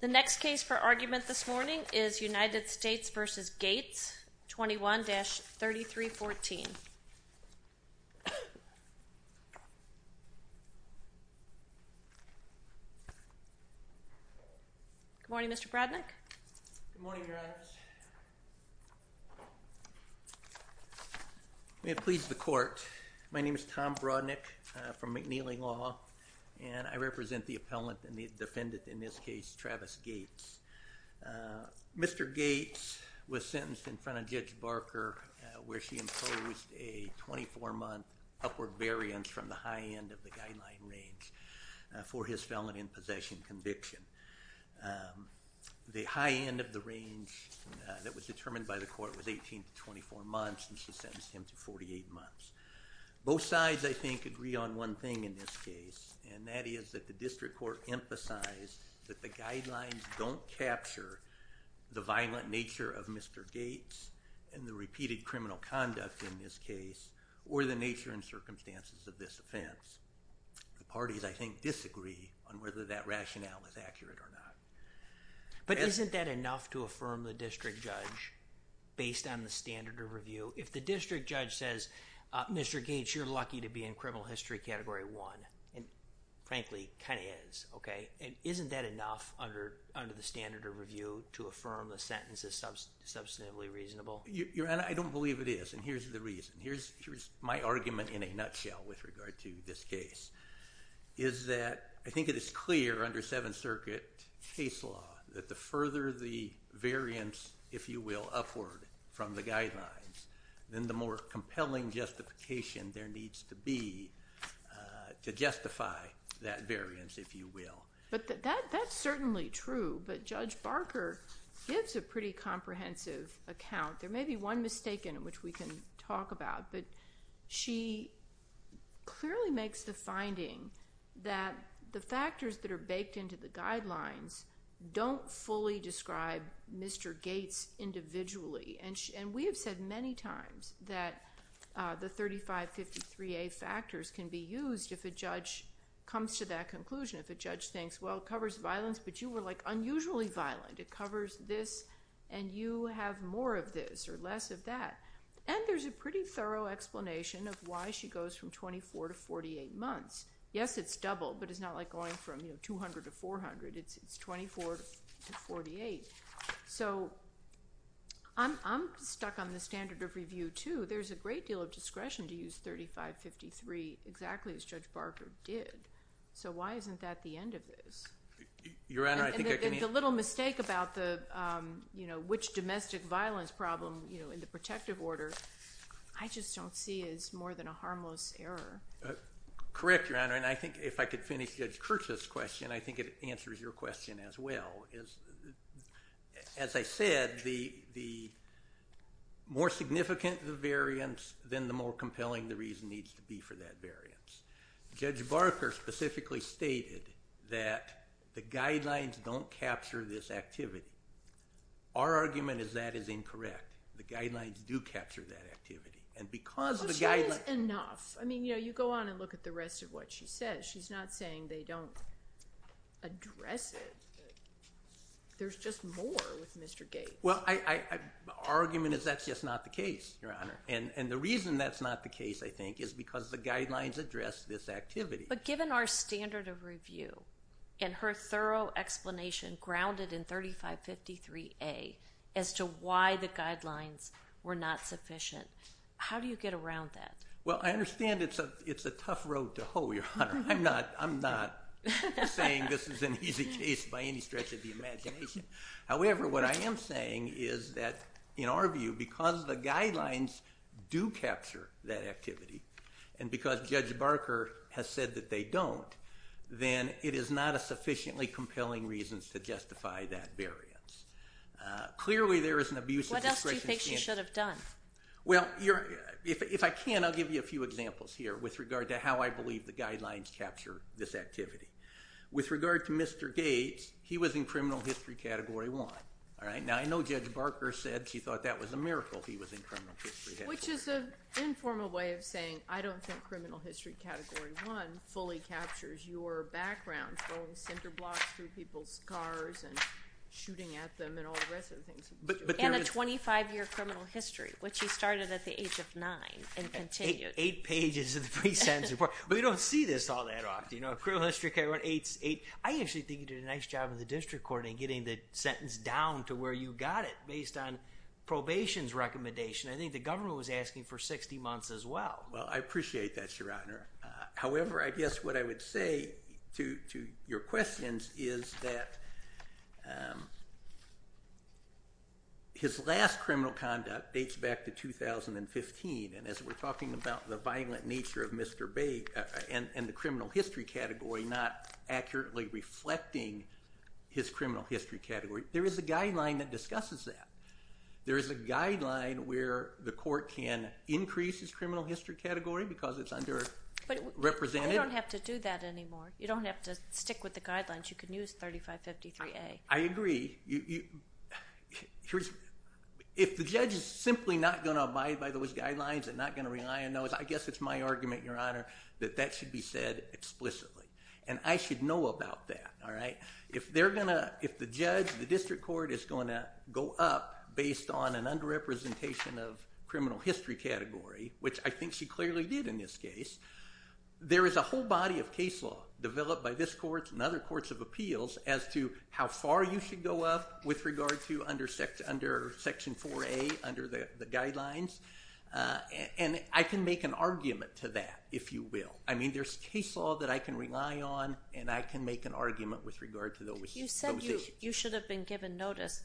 The next case for argument this morning is United States v. Gates, 21-3314. Good morning, Mr. Brodnick. Good morning, Your Honors. May it please the Court, my name is Tom Brodnick from McNeely Law, and I represent the appellant and the defendant in this case, Travis Gates. Mr. Gates was sentenced in front of Judge Barker where she imposed a 24-month upward variance from the high end of the guideline range for his felon in possession conviction. The high end of the range that was determined by the Court was 18 to 24 months, and she sentenced him to 48 months. Both sides, I think, agree on one thing in this case, and that is that the District Court emphasized that the guidelines don't capture the violent nature of Mr. Gates and the repeated criminal conduct in this case or the nature and circumstances of this offense. The parties, I think, disagree on whether that rationale is accurate or not. But isn't that enough to affirm the District Judge based on the standard of review? If the District Judge says, Mr. Gates, you're lucky to be in criminal history category one, and frankly, kind of is, okay? Isn't that enough under the standard of review to affirm the sentence is substantively reasonable? Your Honor, I don't believe it is, and here's the reason. Here's my argument in a nutshell with regard to this case, is that I think it is clear under Seventh Circuit case law that the further the variance, if you will, upward from the guidelines, then the more compelling justification there needs to be to justify that variance, if you will. But that's certainly true, but Judge Barker gives a pretty comprehensive account. There may be one mistake in it which we can talk about, but she clearly makes the finding that the factors that are baked into the guidelines don't fully describe Mr. Gates individually. And we have said many times that the 3553A factors can be used if a judge comes to that conclusion, if a judge thinks, well, it covers violence, but you were, like, unusually violent. It covers this, and you have more of this or less of that. And there's a pretty thorough explanation of why she goes from 24 to 48 months. Yes, it's double, but it's not like going from 200 to 400. It's 24 to 48. So I'm stuck on the standard of review, too. There's a great deal of discretion to use 3553 exactly as Judge Barker did. So why isn't that the end of this? And the little mistake about which domestic violence problem in the protective order, I just don't see as more than a harmless error. Correct, Your Honor, and I think if I could finish Judge Kirchhoff's question, I think it answers your question as well. As I said, the more significant the variance, then the more compelling the reason needs to be for that variance. Judge Barker specifically stated that the guidelines don't capture this activity. Our argument is that is incorrect. The guidelines do capture that activity, and because the guidelines... But she says enough. I mean, you know, you go on and look at the rest of what she says. She's not saying they don't address it. There's just more with Mr. Gates. Well, our argument is that's just not the case, Your Honor, and the reason that's not the case, I think, is because the guidelines address this activity. But given our standard of review and her thorough explanation grounded in 3553A as to why the guidelines were not sufficient, how do you get around that? Well, I understand it's a tough road to hoe, Your Honor. I'm not saying this is an easy case by any stretch of the imagination. However, what I am saying is that, in our view, because the guidelines do capture that activity, and because Judge Barker has said that they don't, then it is not a sufficiently compelling reason to justify that variance. Clearly, there is an abuse of discretion... What else do you think she should have done? Well, if I can, I'll give you a few examples here with regard to how I believe the guidelines capture this activity. With regard to Mr. Gates, he was in criminal history category one. Now, I know Judge Barker said she thought that was a miracle he was in criminal history category one. Which is an informal way of saying I don't think criminal history category one fully captures your background, throwing cinder blocks through people's cars and shooting at them and all the rest of the things that you do. And a 25-year criminal history, which he started at the age of nine and continued. Eight pages of the pre-sentence report. But we don't see this all that often. You know, criminal history category one, eight's eight. I actually think he did a nice job in the pre-sentence down to where you got it based on probation's recommendation. I think the government was asking for 60 months as well. Well, I appreciate that, Your Honor. However, I guess what I would say to your questions is that his last criminal conduct dates back to 2015. And as we're talking about the violent nature of Mr. Bates and the criminal history category not accurately reflecting his criminal history category, there is a guideline that discusses that. There is a guideline where the court can increase his criminal history category because it's under- But you don't have to do that anymore. You don't have to stick with the guidelines. You can use 3553A. I agree. If the judge is simply not going to abide by those guidelines and not going to rely on those, I guess it's my argument, Your Honor, that that should be said explicitly. And I should know about that. If the judge, the district court, is going to go up based on an under-representation of criminal history category, which I think she clearly did in this case, there is a whole body of case law developed by this court and other courts of appeals as to how far you should go up with regard to under Section 4A, under the guidelines. And I can make an argument to that, if you will. I mean, there's case law that I can rely on, and I can make an argument with regard to those issues. You said you should have been given notice.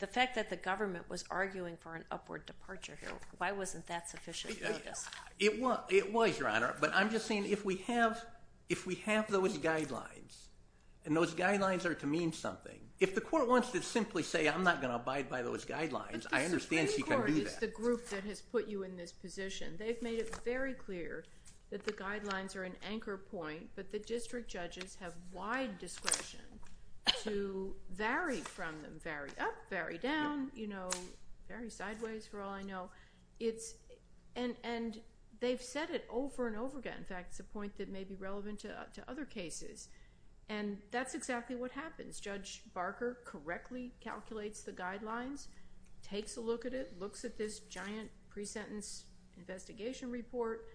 The fact that the government was arguing for an upward departure here, why wasn't that sufficient notice? It was, Your Honor, but I'm just saying if we have those guidelines, and those guidelines are to mean something, if the court wants to simply say, I'm not going to abide by those guidelines, the district court has put you in this position. They've made it very clear that the guidelines are an anchor point, but the district judges have wide discretion to vary from them, vary up, vary down, you know, vary sideways for all I know. And they've said it over and over again. In fact, it's a point that may be relevant to other cases. And that's exactly what happens. Judge Barker correctly calculates the guidelines, takes a look at it, looks at this giant pre-sentence investigation report,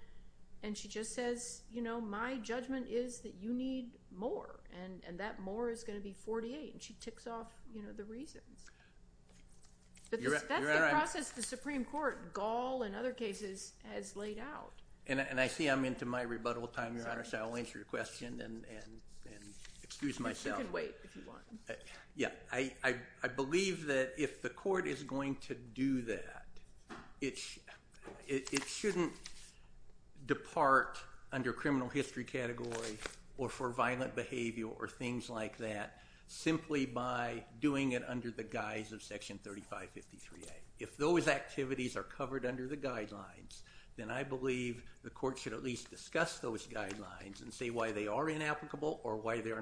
and she just says, you know, my judgment is that you need more, and that more is going to be 48, and she ticks off, you know, the reasons. But that's the process the Supreme Court, Gall and other cases, has laid out. And I see I'm into my rebuttal time, Your Honor, so I'll answer your question and excuse myself. You can wait if you want. Yeah, I believe that if the court is going to do that, it shouldn't depart under criminal history category or for violent behavior or things like that simply by doing it under the guise of Section 3553A. If those activities are covered under the guidelines, then I believe the court should at least discuss those guidelines and say why they are inapplicable or why they are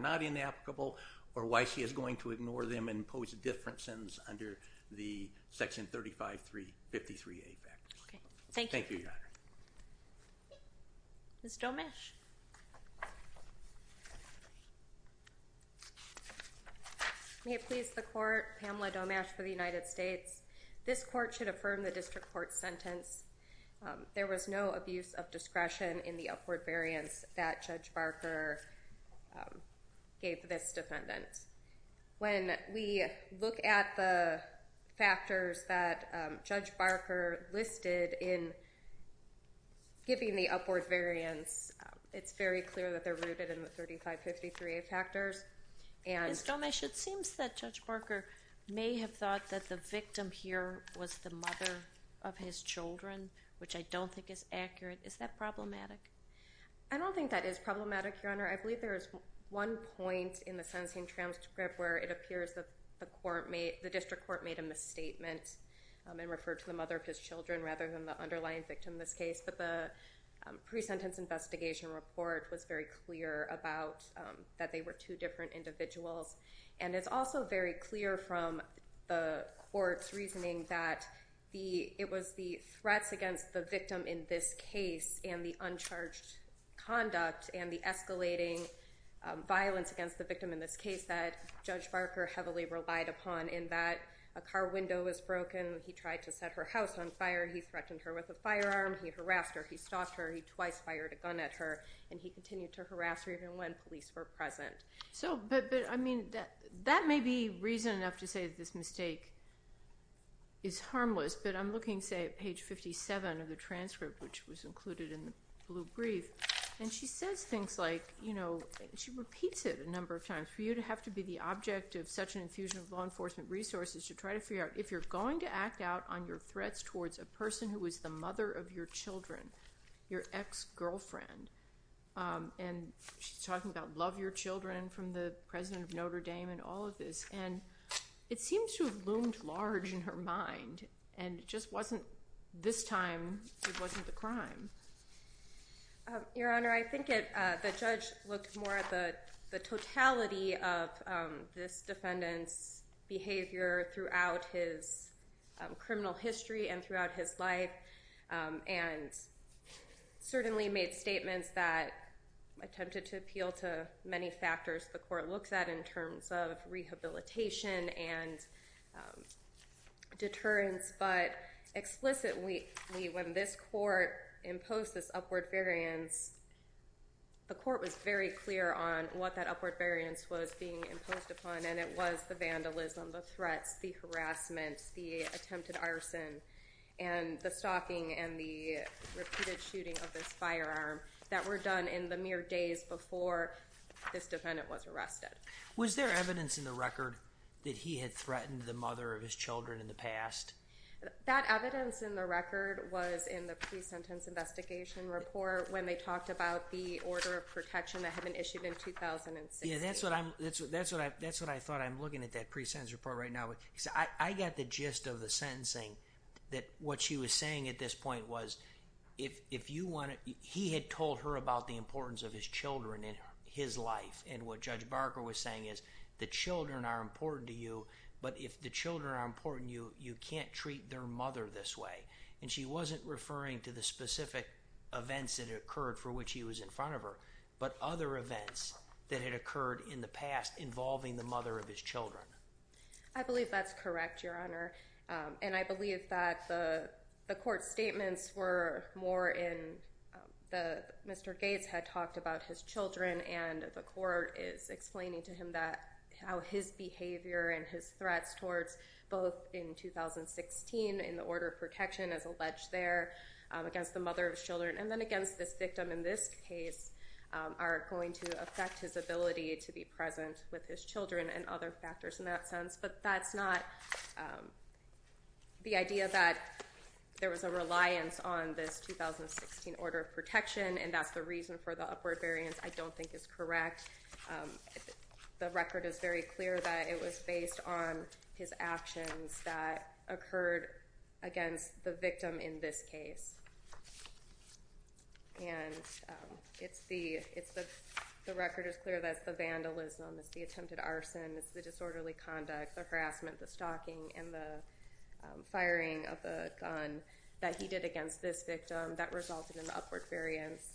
going to ignore them and pose differences under the Section 3553A. Okay, thank you. Thank you, Your Honor. Ms. Domasch. May it please the court, Pamela Domasch for the United States. This court should affirm the district court's sentence. There was no abuse of discretion in the upward variance that Judge Barker gave this defendant. When we look at the factors that Judge Barker listed in giving the upward variance, it's very clear that they're rooted in the 3553A factors. Ms. Domasch, it seems that Judge Barker may have thought that the victim here was the I don't think that is problematic, Your Honor. I believe there is one point in the sentencing transcript where it appears that the district court made a misstatement and referred to the mother of his children rather than the underlying victim in this case. But the pre-sentence investigation report was very clear about that they were two different individuals. And it's also very clear from the court's reasoning that it was the threats against the victim in this case and the uncharged conduct and the escalating violence against the victim in this case that Judge Barker heavily relied upon in that a car window was broken, he tried to set her house on fire, he threatened her with a firearm, he harassed her, he stalked her, he twice fired a gun at her, and he continued to harass her even when police were present. So, but I mean, that may be reason enough to say that this mistake is harmless, but I'm looking, say, at page 57 of the transcript, which was included in the blue brief, and she says things like, you know, she repeats it a number of times, for you to have to be the object of such an infusion of law enforcement resources to try to figure out if you're going to act out on your threats towards a person who is the mother of your children, your ex-girlfriend. And she's talking about love your children from the president of Notre Dame and all of And it seems to have loomed large in her mind, and it just wasn't this time, it wasn't the crime. Your Honor, I think the judge looked more at the totality of this defendant's behavior throughout his criminal history and throughout his life, and certainly made statements that and deterrence, but explicitly when this court imposed this upward variance, the court was very clear on what that upward variance was being imposed upon, and it was the vandalism, the threats, the harassment, the attempted arson, and the stalking and the repeated shooting of this firearm that were done in the mere days before this defendant was arrested. Was there evidence in the record that he had threatened the mother of his children in the past? That evidence in the record was in the pre-sentence investigation report when they talked about the order of protection that had been issued in 2006. Yeah, that's what I thought. I'm looking at that pre-sentence report right now, because I got the gist of the sentencing that what she was saying at this point was, he had told her about the importance of his the children are important to you, but if the children are important to you, you can't treat their mother this way. And she wasn't referring to the specific events that occurred for which he was in front of her, but other events that had occurred in the past involving the mother of his children. I believe that's correct, Your Honor, and I believe that the court's statements were more in, Mr. Gates had talked about his children, and the court is explaining to him how his behavior and his threats towards both in 2016 in the order of protection as alleged there against the mother of his children, and then against this victim in this case, are going to affect his ability to be present with his children and other factors in that sense. But that's not, the idea that there was a reliance on this 2016 order of protection, and that's the reason for the upward variance, I don't think is correct. The record is very clear that it was based on his actions that occurred against the victim in this case, and it's the, the record is clear that it's the vandalism, it's the attempted conduct, the harassment, the stalking, and the firing of the gun that he did against this victim that resulted in the upward variance.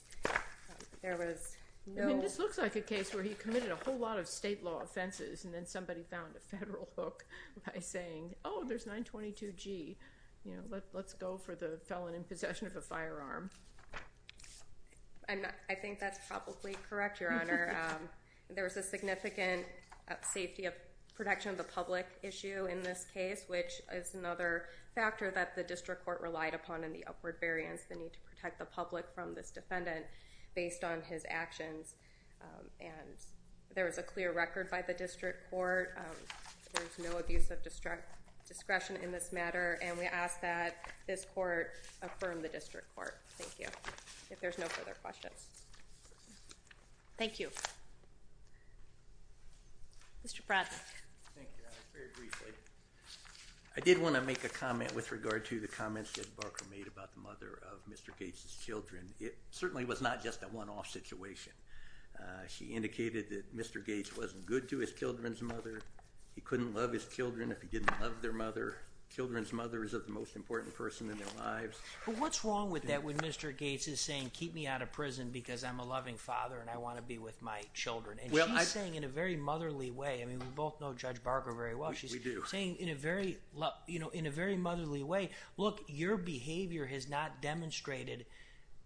There was no... I mean, this looks like a case where he committed a whole lot of state law offenses, and then somebody found a federal hook by saying, oh, there's 922 G, you know, let's go for the felon in possession of a firearm. I'm not, I think that's probably correct, Your Honor. There was a significant safety of protection of the public issue in this case, which is another factor that the district court relied upon in the upward variance, the need to protect the public from this defendant based on his actions. And there was a clear record by the district court. There's no abuse of discretion in this matter, and we ask that this court affirm the district court. Thank you. If there's no further questions. Thank you. Mr. Broderick. Thank you, Your Honor. Very briefly, I did want to make a comment with regard to the comments Judge Barker made about the mother of Mr. Gates' children. It certainly was not just a one-off situation. She indicated that Mr. Gates wasn't good to his children's mother. He couldn't love his children if he didn't love their mother. Children's mother is the most important person in their lives. But what's wrong with that when Mr. Gates is saying, keep me out of prison because I'm a loving father and I want to be with my children? And she's saying in a very motherly way. I mean, we both know Judge Barker very well. We do. She's saying in a very motherly way, look, your behavior has not demonstrated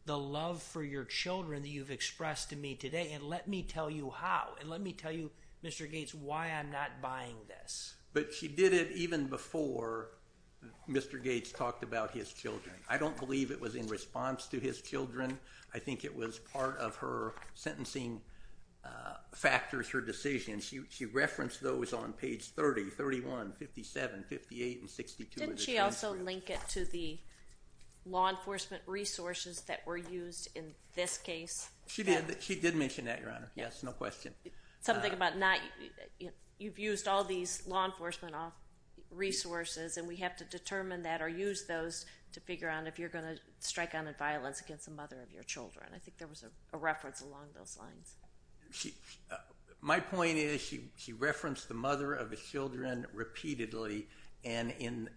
the love for your children that you've expressed to me today, and let me tell you how. And let me tell you, Mr. Gates, why I'm not buying this. But she did it even before Mr. Gates talked about his children. I don't believe it was in response to his children. I think it was part of her sentencing factors, her decision. She referenced those on page 30, 31, 57, 58, and 62. Didn't she also link it to the law enforcement resources that were used in this case? She did. She did mention that, Your Honor. Yes, no question. Something about not you've used all these law enforcement resources, and we have to wonder, Your Honor, if you're going to strike on in violence against the mother of your children. I think there was a reference along those lines. My point is she referenced the mother of his children repeatedly, and in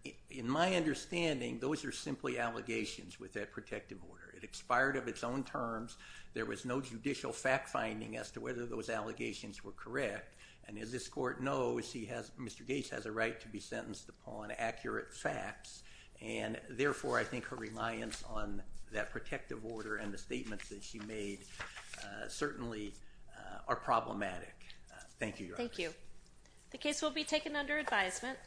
my understanding, those are simply allegations with that protective order. It expired of its own terms. There was no judicial fact-finding as to whether those allegations were correct. And as this Court knows, Mr. Gates has a right to be sentenced upon accurate facts, and therefore, I think her reliance on that protective order and the statements that she made certainly are problematic. Thank you, Your Honor. Thank you. The case will be taken under advisement.